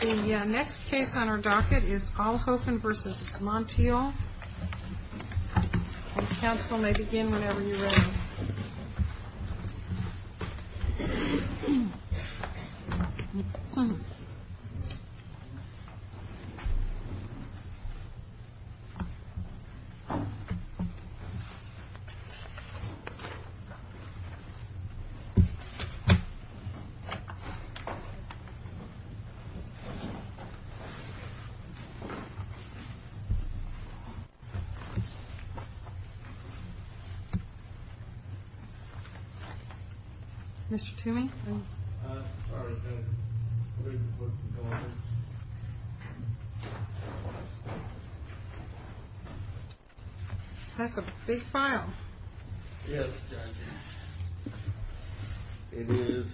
The next case on our docket is Alhofen v. Monteilh. Counsel may begin whenever you're ready. Mr. Toomey? That's a big file. Yes, Judge. It is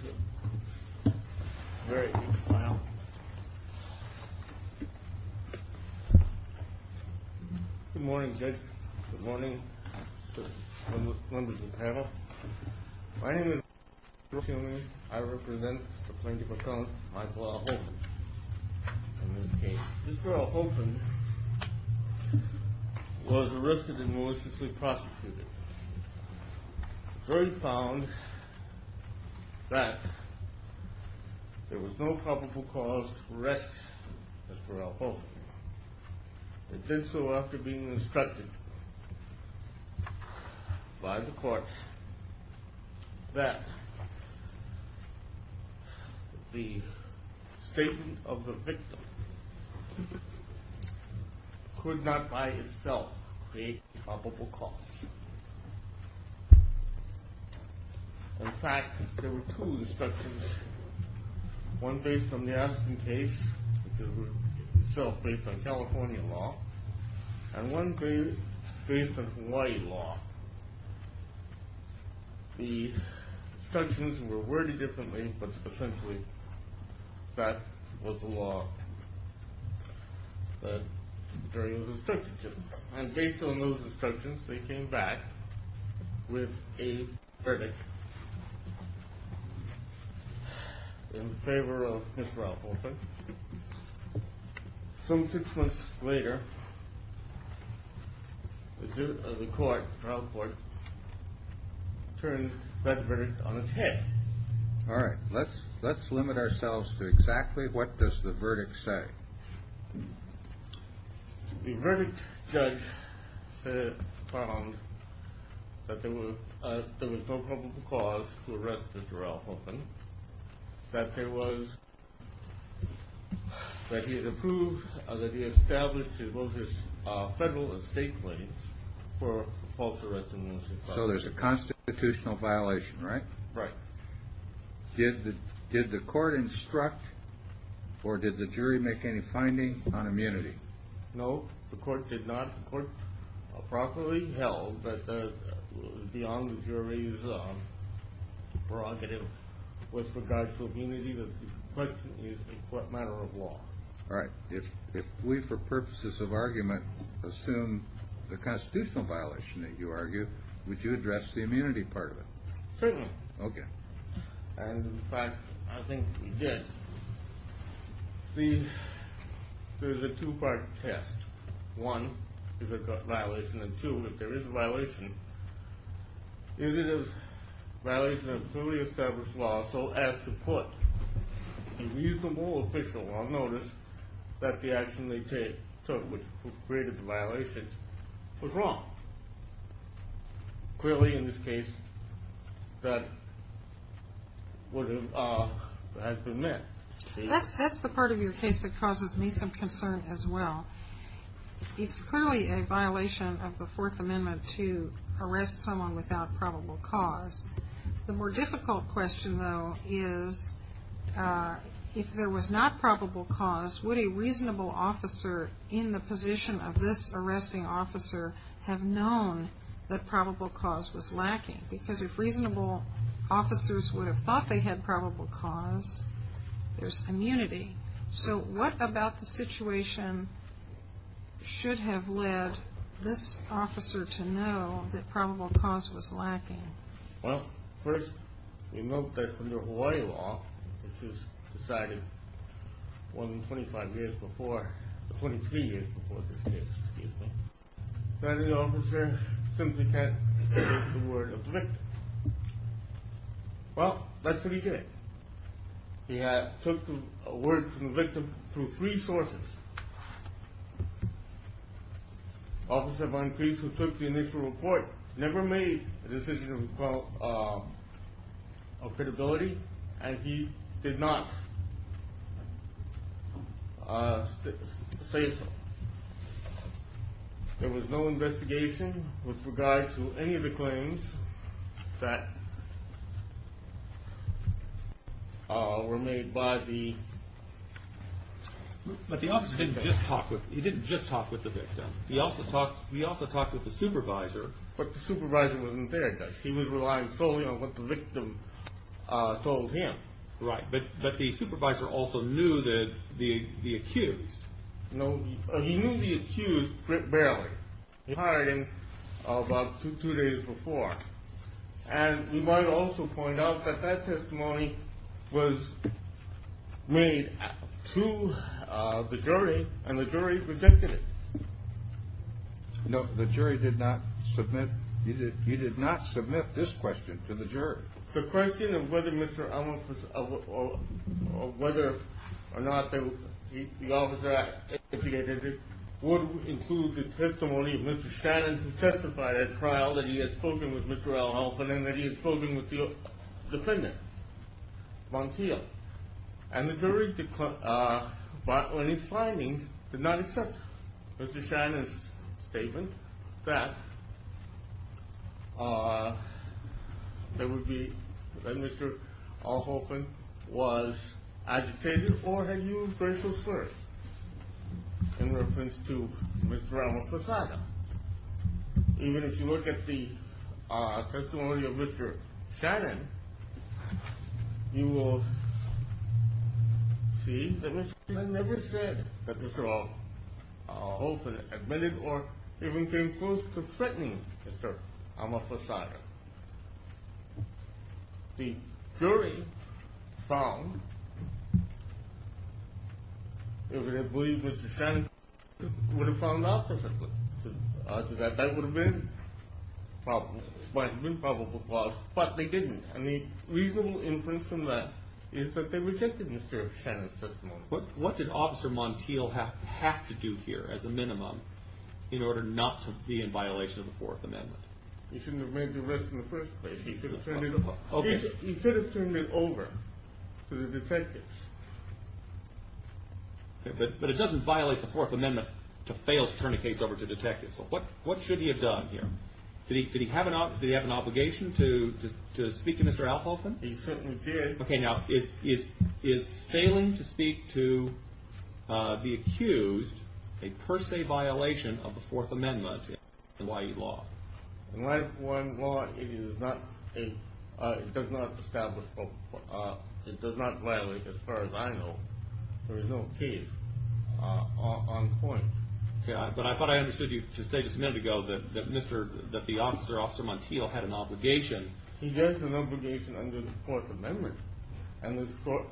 a very big file. Good morning, Judge. Good morning to members of the panel. My name is Mr. Toomey. I represent the plaintiff accountant, Michael Alhofen, in this case. Mr. Alhofen was arrested and maliciously prosecuted. The jury found that there was no culpable cause to arrest Mr. Alhofen. It did so after being instructed by the court that the statement of the victim could not by itself create a culpable cause. In fact, there were two instructions. One based on the Aspen case, which is itself based on California law, and one based on Hawaii law. The instructions were worded differently, but essentially that was the law that the jury was instructed to. And based on those instructions, they came back with a verdict in favor of Mr. Alhofen. Some six months later, the judge of the trial court turned that verdict on its head. All right. Let's limit ourselves to exactly what does the verdict say? The verdict judge found that there was no culpable cause to arrest Mr. Alhofen, that he had established both his federal and state claims for false arrest and malicious prosecution. So there's a constitutional violation, right? Right. Did the court instruct or did the jury make any finding on immunity? No, the court did not. The court properly held that beyond the jury's prerogative with regards to immunity, the question is in what manner of law? All right. If we, for purposes of argument, assume the constitutional violation that you argue, would you address the immunity part of it? Certainly. Okay. And in fact, I think we did. There's a two-part test. One, is it a violation? And two, if there is a violation, is it a violation of a fully established law so as to put a reasonable official on notice that the action they took which created the violation was wrong? Clearly, in this case, that has been met. That's the part of your case that causes me some concern as well. It's clearly a violation of the Fourth Amendment to arrest someone without probable cause. The more difficult question, though, is if there was not probable cause, would a reasonable officer in the position of this arresting officer have known that probable cause was lacking? Because if reasonable officers would have thought they had probable cause, there's immunity. So what about the situation should have led this officer to know that probable cause was lacking? Well, first, we note that under Hawaii law, which was decided 23 years before this case, that an officer simply can't take the word of the victim. Well, that's what he did. He took the word from the victim through three sources. Officer Von Crease, who took the initial report, never made a decision of credibility, and he did not say so. There was no investigation with regard to any of the claims that were made by the officer. He didn't just talk with the victim. He also talked with the supervisor. But the supervisor wasn't there, Judge. He was relying solely on what the victim told him. Right, but the supervisor also knew the accused. No, he knew the accused barely. He hired him about two days before. And we might also point out that that testimony was made to the jury, and the jury rejected it. No, the jury did not submit. He did not submit this question to the jury. The question of whether Mr. Elmendorf or whether or not the officer educated him would include the testimony of Mr. Shannon, who testified at trial that he had spoken with Mr. Alhoffen and that he had spoken with the defendant, Montiel. And the jury, on its findings, did not accept Mr. Shannon's statement that Mr. Alhoffen was agitated or had used racial slurs in reference to Mr. Ramaphosada. Even if you look at the testimony of Mr. Shannon, you will see that Mr. Shannon never said that Mr. Alhoffen admitted or even came close to threatening Mr. Ramaphosada. The jury found that they believed Mr. Shannon would have found out perfectly that that would have been probable cause, but they didn't. And the reasonable inference from that is that they rejected Mr. Shannon's testimony. What did Officer Montiel have to do here, as a minimum, in order not to be in violation of the Fourth Amendment? He shouldn't have made the arrest in the first place. He should have turned it over to the detectives. But it doesn't violate the Fourth Amendment to fail to turn a case over to detectives. What should he have done here? Did he have an obligation to speak to Mr. Alhoffen? He certainly did. Okay, now, is failing to speak to the accused a per se violation of the Fourth Amendment in Hawaii law? In Hawaii law, it does not violate, as far as I know. There is no case on point. But I thought I understood you to say just a minute ago that the officer, Officer Montiel, had an obligation. He does have an obligation under the Fourth Amendment. And this court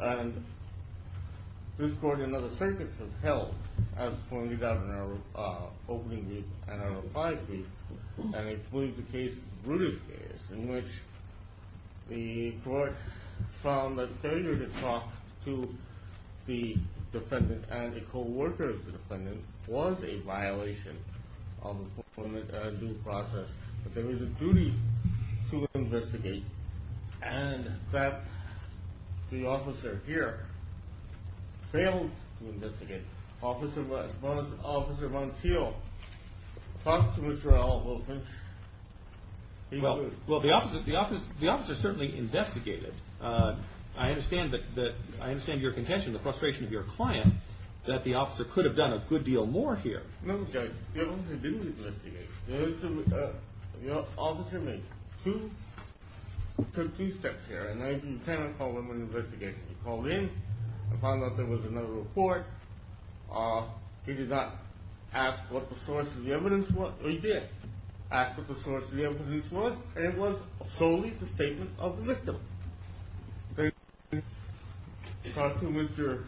and other circuits have held, as pointed out in our opening brief and our reply brief, and it was the case, Bruder's case, in which the court found that failure to talk to the defendant and a co-worker of the defendant was a violation of the Fourth Amendment due process. But there is a duty to investigate. And that the officer here failed to investigate. Officer Montiel talked to Mr. Alhoffen. Well, the officer certainly investigated. I understand your contention, the frustration of your client, that the officer could have done a good deal more here. No, Judge, the officer didn't investigate. The officer took two steps here. In 1910, I called him in for an investigation. He called in. I found out there was another report. He did not ask what the source of the evidence was. He did ask what the source of the evidence was, and it was solely the statement of the victim. Then he talked to Mr.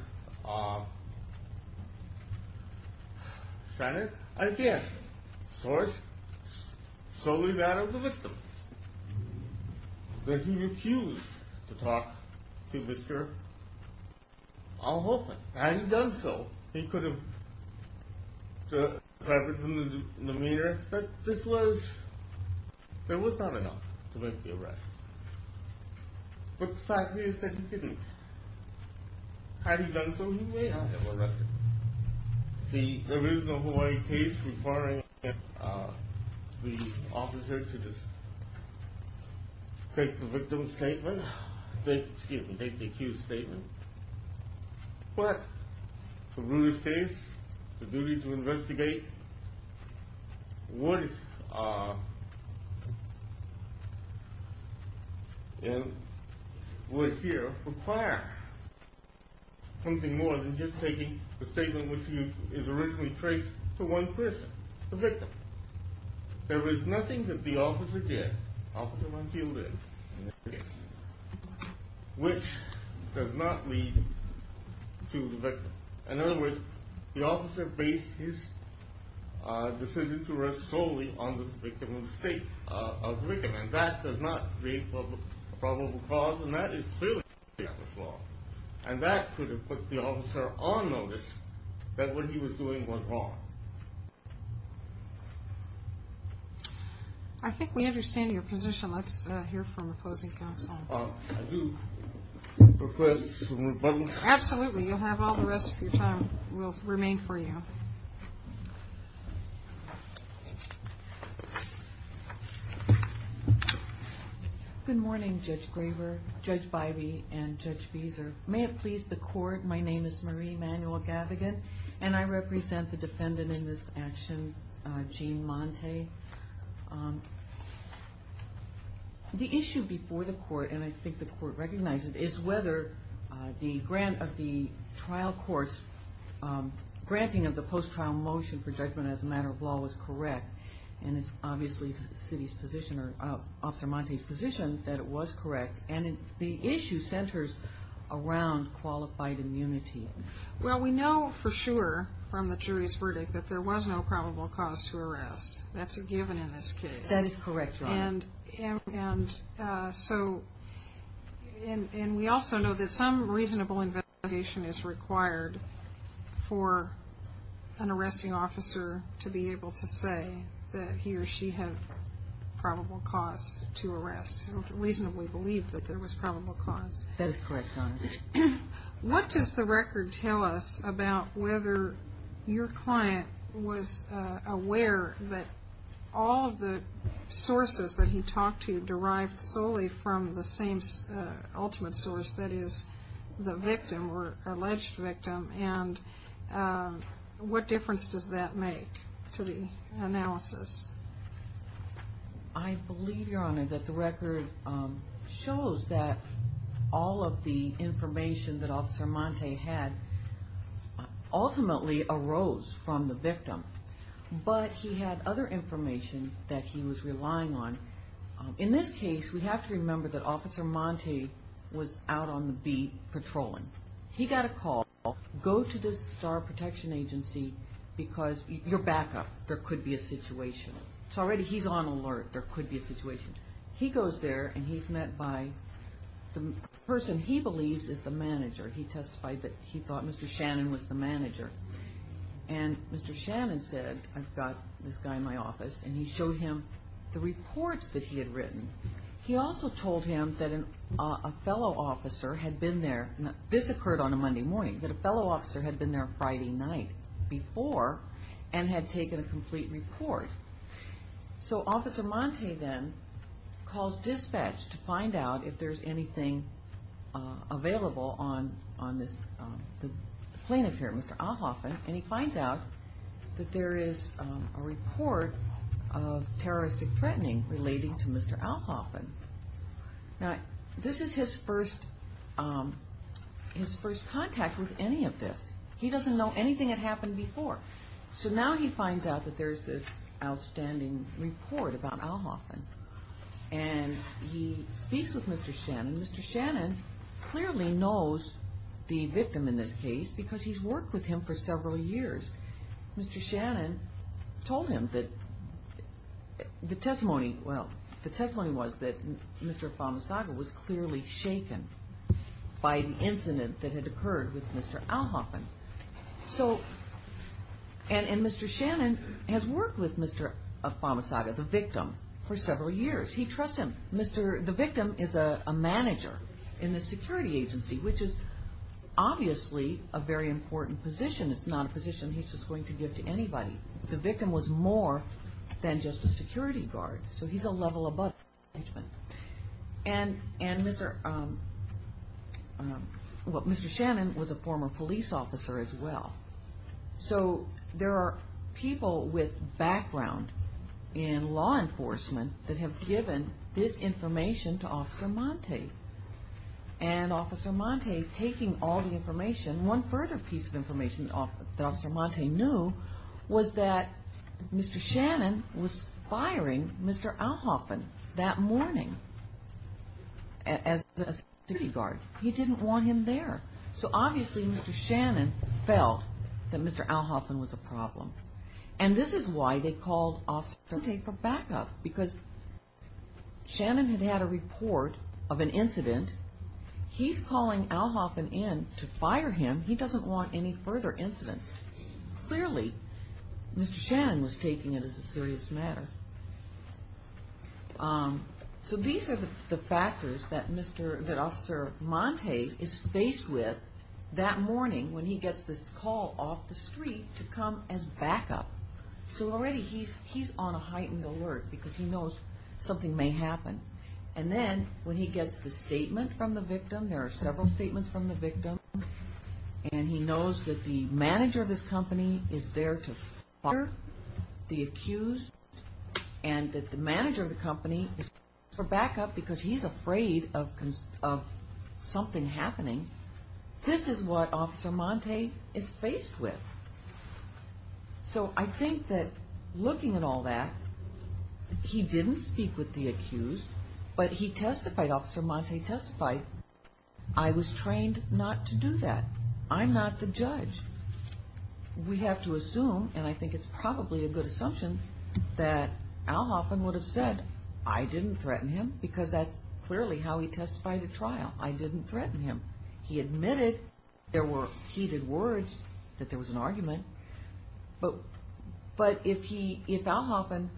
Shannon again. Source? Solely that of the victim. Then he refused to talk to Mr. Alhoffen. Had he done so, he could have deprived him of the remainder that this was. There was not enough to make the arrest. But the fact is that he didn't. Had he done so, he may not have been arrested. See, there is a Hawaii case requiring the officer to take the victim's statement. Excuse me, take the accused's statement. But for Rudy's case, the duty to investigate would here require something more than just taking the statement which is originally traced to one person, the victim. There is nothing that the officer did, which does not lead to the victim. In other words, the officer based his decision to arrest solely on the statement of the victim. That does not create a probable cause, and that is clearly the officer's fault. I think we understand your position. Let's hear from opposing counsel. I do request some rebuttal. Absolutely, you have all the rest of your time will remain for you. Good morning, Judge Graver, Judge Bybee, and Judge Beezer. May it please the court, my name is Marie Manuel-Gavigan, and I represent the defendant in this action, Gene Monte. The issue before the court, and I think the court recognizes it, is whether the granting of the post-trial motion for judgment as a matter of law was correct. And it's obviously Officer Monte's position that it was correct. And the issue centers around qualified immunity. Well, we know for sure from the jury's verdict that there was no probable cause to arrest. That's a given in this case. That is correct, Your Honor. And so, and we also know that some reasonable investigation is required for an arresting officer to be able to say that he or she had probable cause to arrest. We reasonably believe that there was probable cause. That is correct, Your Honor. What does the record tell us about whether your client was aware that all of the sources that he talked to derived solely from the same ultimate source, that is, the victim or alleged victim, and what difference does that make to the analysis? I believe, Your Honor, that the record shows that all of the information that Officer Monte had ultimately arose from the victim. But he had other information that he was relying on. In this case, we have to remember that Officer Monte was out on the beat patrolling. He got a call, go to the Star Protection Agency because you're backup, there could be a situation. So already he's on alert, there could be a situation. He goes there and he's met by the person he believes is the manager. He testified that he thought Mr. Shannon was the manager. And Mr. Shannon said, I've got this guy in my office, and he showed him the reports that he had written. He also told him that a fellow officer had been there, this occurred on a Monday morning, that a fellow officer had been there a Friday night before and had taken a complete report. So Officer Monte then calls dispatch to find out if there's anything available on the plaintiff here, Mr. Alhoffen, and he finds out that there is a report of terroristic threatening relating to Mr. Alhoffen. Now, this is his first contact with any of this. He doesn't know anything that happened before. So now he finds out that there's this outstanding report about Alhoffen. And he speaks with Mr. Shannon. Mr. Shannon clearly knows the victim in this case because he's worked with him for several years. Mr. Shannon told him that the testimony was that Mr. Afamasaga was clearly shaken by the incident that had occurred with Mr. Alhoffen. And Mr. Shannon has worked with Mr. Afamasaga, the victim, for several years. He trusts him. The victim is a manager in the security agency, which is obviously a very important position. It's not a position he's just going to give to anybody. The victim was more than just a security guard. So he's a level above the management. And Mr. Shannon was a former police officer as well. So there are people with background in law enforcement that have given this information to Officer Monte. And Officer Monte, taking all the information, one further piece of information that Officer Monte knew, was that Mr. Shannon was firing Mr. Alhoffen that morning as a security guard. He didn't want him there. So obviously Mr. Shannon felt that Mr. Alhoffen was a problem. And this is why they called Officer Monte for backup, because Shannon had had a report of an incident. He's calling Alhoffen in to fire him. He doesn't want any further incidents. Clearly, Mr. Shannon was taking it as a serious matter. So these are the factors that Officer Monte is faced with that morning when he gets this call off the street to come as backup. So already he's on a heightened alert because he knows something may happen. And then when he gets the statement from the victim, there are several statements from the victim, and he knows that the manager of this company is there to fire the accused, and that the manager of the company is there for backup because he's afraid of something happening. This is what Officer Monte is faced with. So I think that looking at all that, he didn't speak with the accused, but he testified, and Officer Monte testified, I was trained not to do that. I'm not the judge. We have to assume, and I think it's probably a good assumption, that Alhoffen would have said, I didn't threaten him, because that's clearly how he testified at trial. I didn't threaten him. He admitted there were heated words, that there was an argument. But if Alhoffen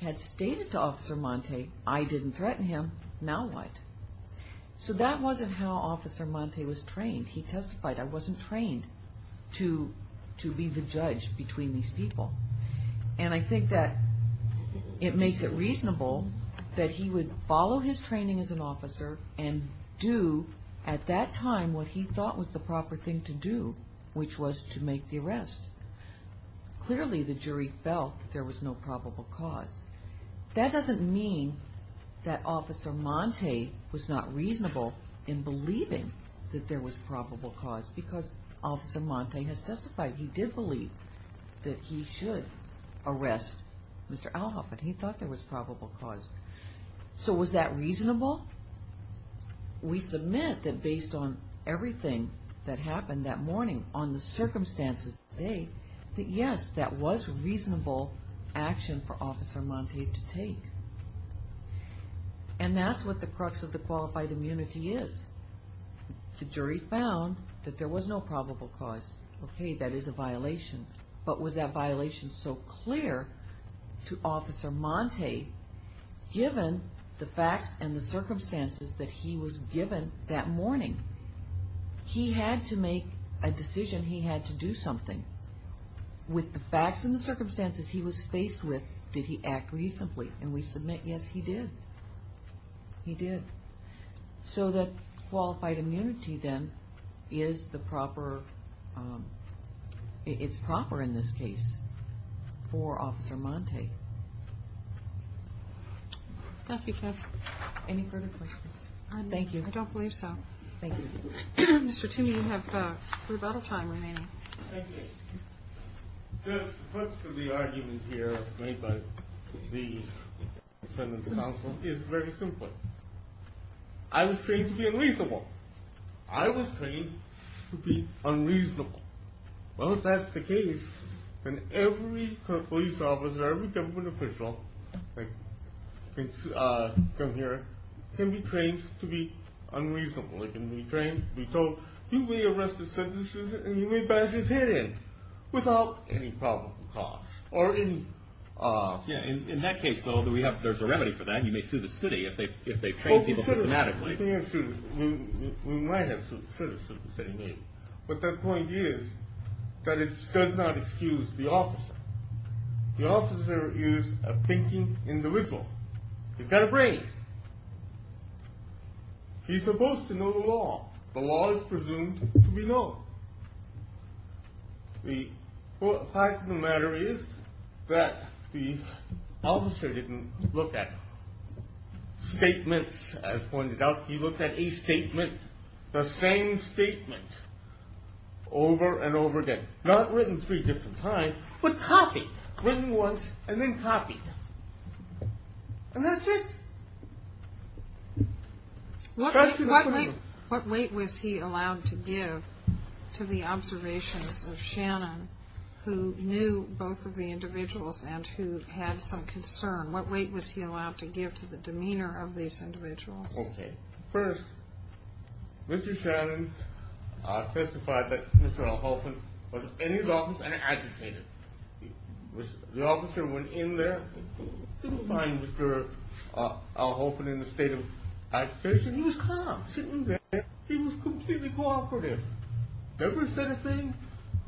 had stated to Officer Monte, I didn't threaten him, now what? So that wasn't how Officer Monte was trained. He testified, I wasn't trained to be the judge between these people. And I think that it makes it reasonable that he would follow his training as an officer and do at that time what he thought was the proper thing to do, which was to make the arrest. Clearly the jury felt there was no probable cause. That doesn't mean that Officer Monte was not reasonable in believing that there was probable cause, because Officer Monte has testified he did believe that he should arrest Mr. Alhoffen. He thought there was probable cause. So was that reasonable? We submit that based on everything that happened that morning, on the circumstances today, that yes, that was reasonable action for Officer Monte to take. And that's what the crux of the qualified immunity is. The jury found that there was no probable cause. Okay, that is a violation. But was that violation so clear to Officer Monte, given the facts and the circumstances that he was given that morning? He had to make a decision. He had to do something. With the facts and the circumstances he was faced with, did he act reasonably? And we submit, yes, he did. He did. So that qualified immunity, then, is the proper, it's proper in this case for Officer Monte. Thank you, counsel. Any further questions? Thank you. I don't believe so. Thank you. Mr. Toomey, you have rebuttal time remaining. Thank you. Judge, the crux of the argument here made by the sentencing counsel is very simple. I was trained to be unreasonable. I was trained to be unreasonable. Well, if that's the case, then every police officer, every government official, like from here, can be trained to be unreasonable. They can be trained to be told, you may arrest a citizen, and you may bash his head in without any probable cause. In that case, though, there's a remedy for that. You may sue the city if they've trained people systematically. We might have sued the city. But the point is that it does not excuse the officer. The officer is a thinking individual. He's got a brain. He's supposed to know the law. The law is presumed to be known. The fact of the matter is that the officer didn't look at statements, as pointed out. He looked at a statement, the same statement, over and over again, not written three different times, but copied, written once and then copied. And that's it. What weight was he allowed to give to the observations of Shannon, who knew both of the individuals and who had some concern? What weight was he allowed to give to the demeanor of these individuals? Okay. First, Mr. Shannon testified that Mr. Halpern was in his office and agitated. The officer went in there to find Mr. Halpern in a state of agitation. He was calm, sitting there. He was completely cooperative. Never said a thing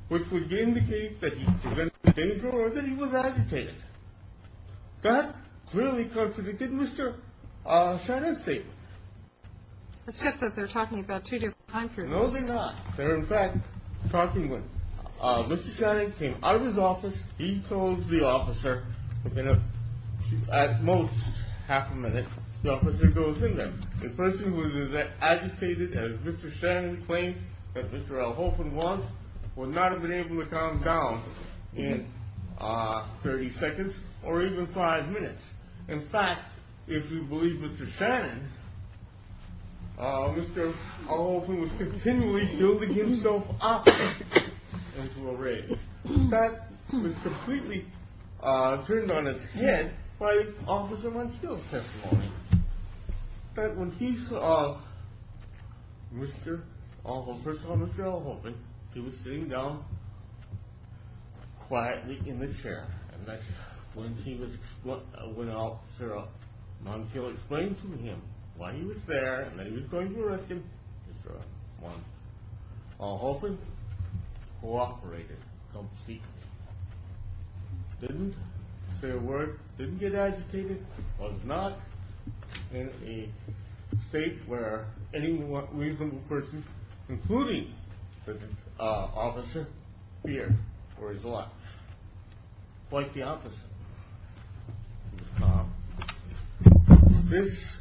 which would indicate that he was in danger or that he was agitated. That clearly contradicted Mr. Shannon's statement. Except that they're talking about two different time periods. No, they're not. They're, in fact, talking when Mr. Shannon came. Out of his office, he told the officer, within at most half a minute, the officer goes in there. The person who was as agitated as Mr. Shannon claimed that Mr. Halpern was would not have been able to calm down in 30 seconds or even five minutes. In fact, if you believe Mr. Shannon, Mr. Halpern was continually building himself up into a rage. In fact, he was completely turned on its head by Officer Montiel's testimony that when he saw Mr. Halpern, first of all, Mr. Al Halpern, he was sitting down quietly in the chair and that when Officer Montiel explained to him why he was there and that he was going to arrest him, Mr. Al Halpern cooperated completely. Didn't say a word, didn't get agitated, was not in a state where any reasonable person, including the officer, feared for his life. Quite the opposite. This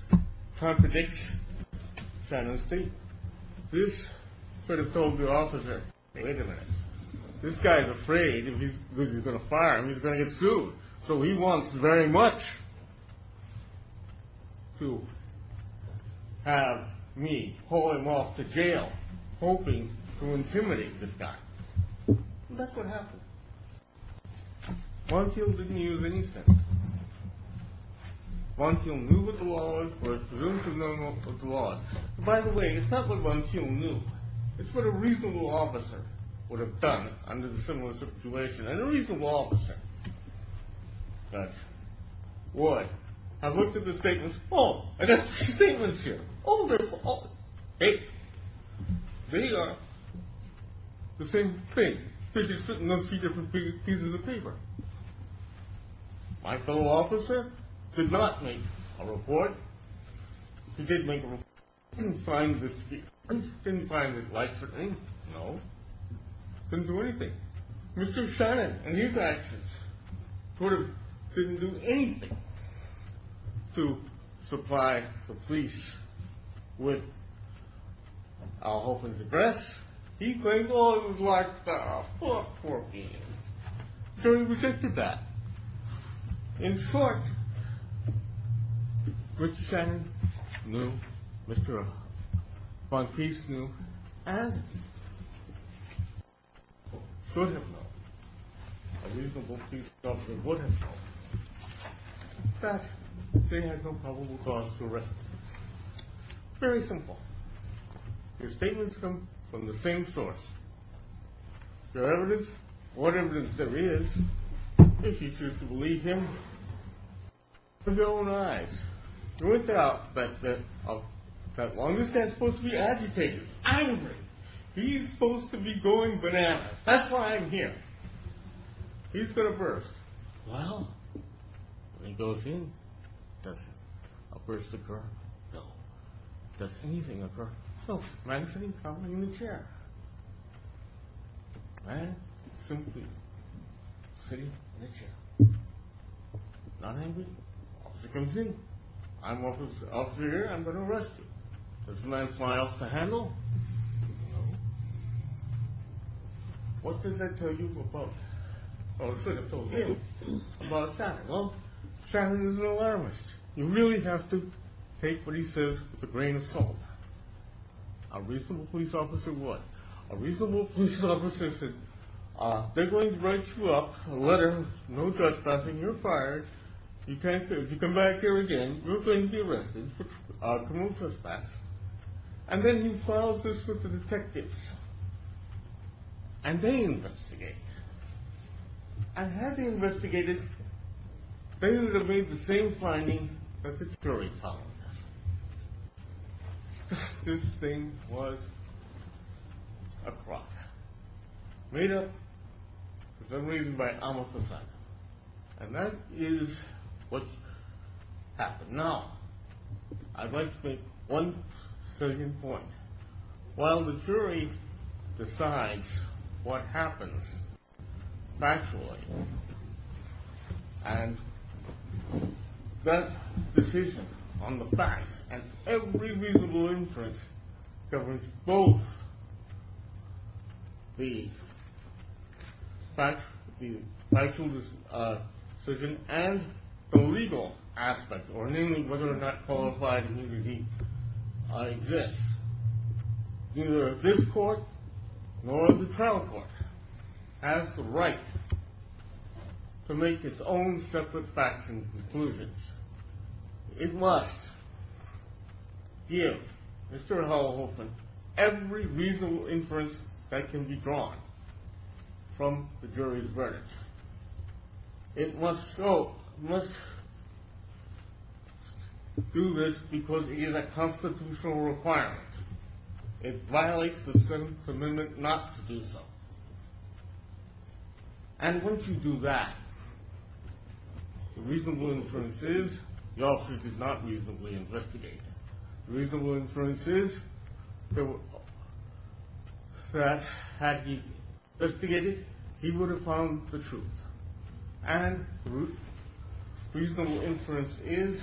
contradicts Shannon's state. This should have told the officer, wait a minute, this guy's afraid because he's going to fire him, he's going to get sued. So he wants very much to have me haul him off to jail, hoping to intimidate this guy. And that's what happened. Montiel didn't use any sense. Montiel knew what the law was, but was presumed to have known what the law was. By the way, it's not what Montiel knew. It's what a reasonable officer would have done under the similar situation. And a reasonable officer would have looked at the statements, oh, I got some statements here. Hey, they are the same thing. They're just sitting on three different pieces of paper. My fellow officer did not make a report. He did make a report. He didn't find this to be honest. He didn't find it likes or anything. No. Didn't do anything. Mr. Shannon, in his actions, couldn't do anything to supply the police with Al Holton's address. He claimed all he was like, oh, fuck, poor man. So he resisted that. In short, Mr. Shannon knew, Mr. Von Keefe knew, and should have known, a reasonable police officer would have known, that they had no probable cause to arrest him. Very simple. Your statements come from the same source. Your evidence? What evidence there is. If you choose to believe him. With your own eyes. With that, that, that, that, that long as that's supposed to be agitated, angry, he's supposed to be going bananas. That's why I'm here. He's going to burst. Well, when he goes in, does a burst occur? No. Does anything occur? No. Man sitting probably in a chair. Man simply sitting in a chair. Not angry. Officer comes in. I'm officer here, I'm going to arrest you. Does the man fly off the handle? No. What does that tell you about, or should have told you, about Shannon? Well, Shannon is an alarmist. You really have to take what he says with a grain of salt. A reasonable police officer would. A reasonable police officer said, they're going to write you up a letter, no trespassing, you're fired. If you come back here again, you're going to be arrested for criminal trespass. And then he files this with the detectives. And they investigate. And had they investigated, they would have made the same finding that the jury filed. That this thing was a fraud. Made up for some reason by amortization. And that is what happened. Now, I'd like to make one certain point. While the jury decides what happens factually, and that decision on the facts and every reasonable inference governs both the factual decision and the legal aspect, or namely whether or not qualified immunity exists. Neither this court, nor the trial court, has the right to make its own separate facts and conclusions. It must give Mr. Holohofn every reasonable inference that can be drawn from the jury's verdict. It must do this because it is a constitutional requirement. It violates the 7th Amendment not to do so. And once you do that, the reasonable inference is, the officer did not reasonably investigate. Reasonable inference is that had he investigated, he would have found the truth. And reasonable inference is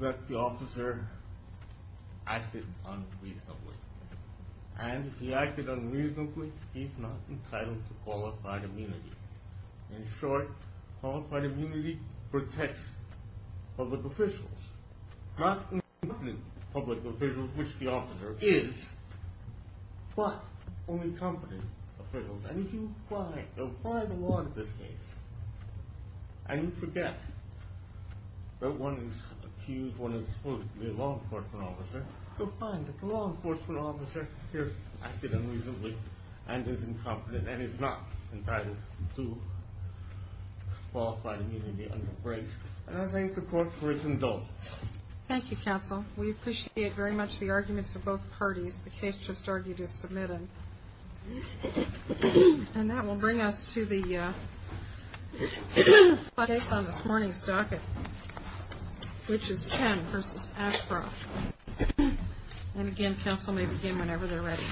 that the officer acted unreasonably. And if he acted unreasonably, he's not entitled to qualified immunity. In short, qualified immunity protects public officials, not incompetent public officials, which the officer is, but only competent officials. And if you apply the law to this case, and you forget that one is accused, one is supposedly a law enforcement officer, you'll find that the law enforcement officer here acted unreasonably, and is incompetent, and is not entitled to qualified immunity under grace. And I thank the court for its indulgence. Thank you, counsel. We appreciate very much the arguments of both parties. The case just argued is submitted. And that will bring us to the case on this morning's docket, which is Chen v. Ashcroft. And, again, counsel may begin whenever they're ready.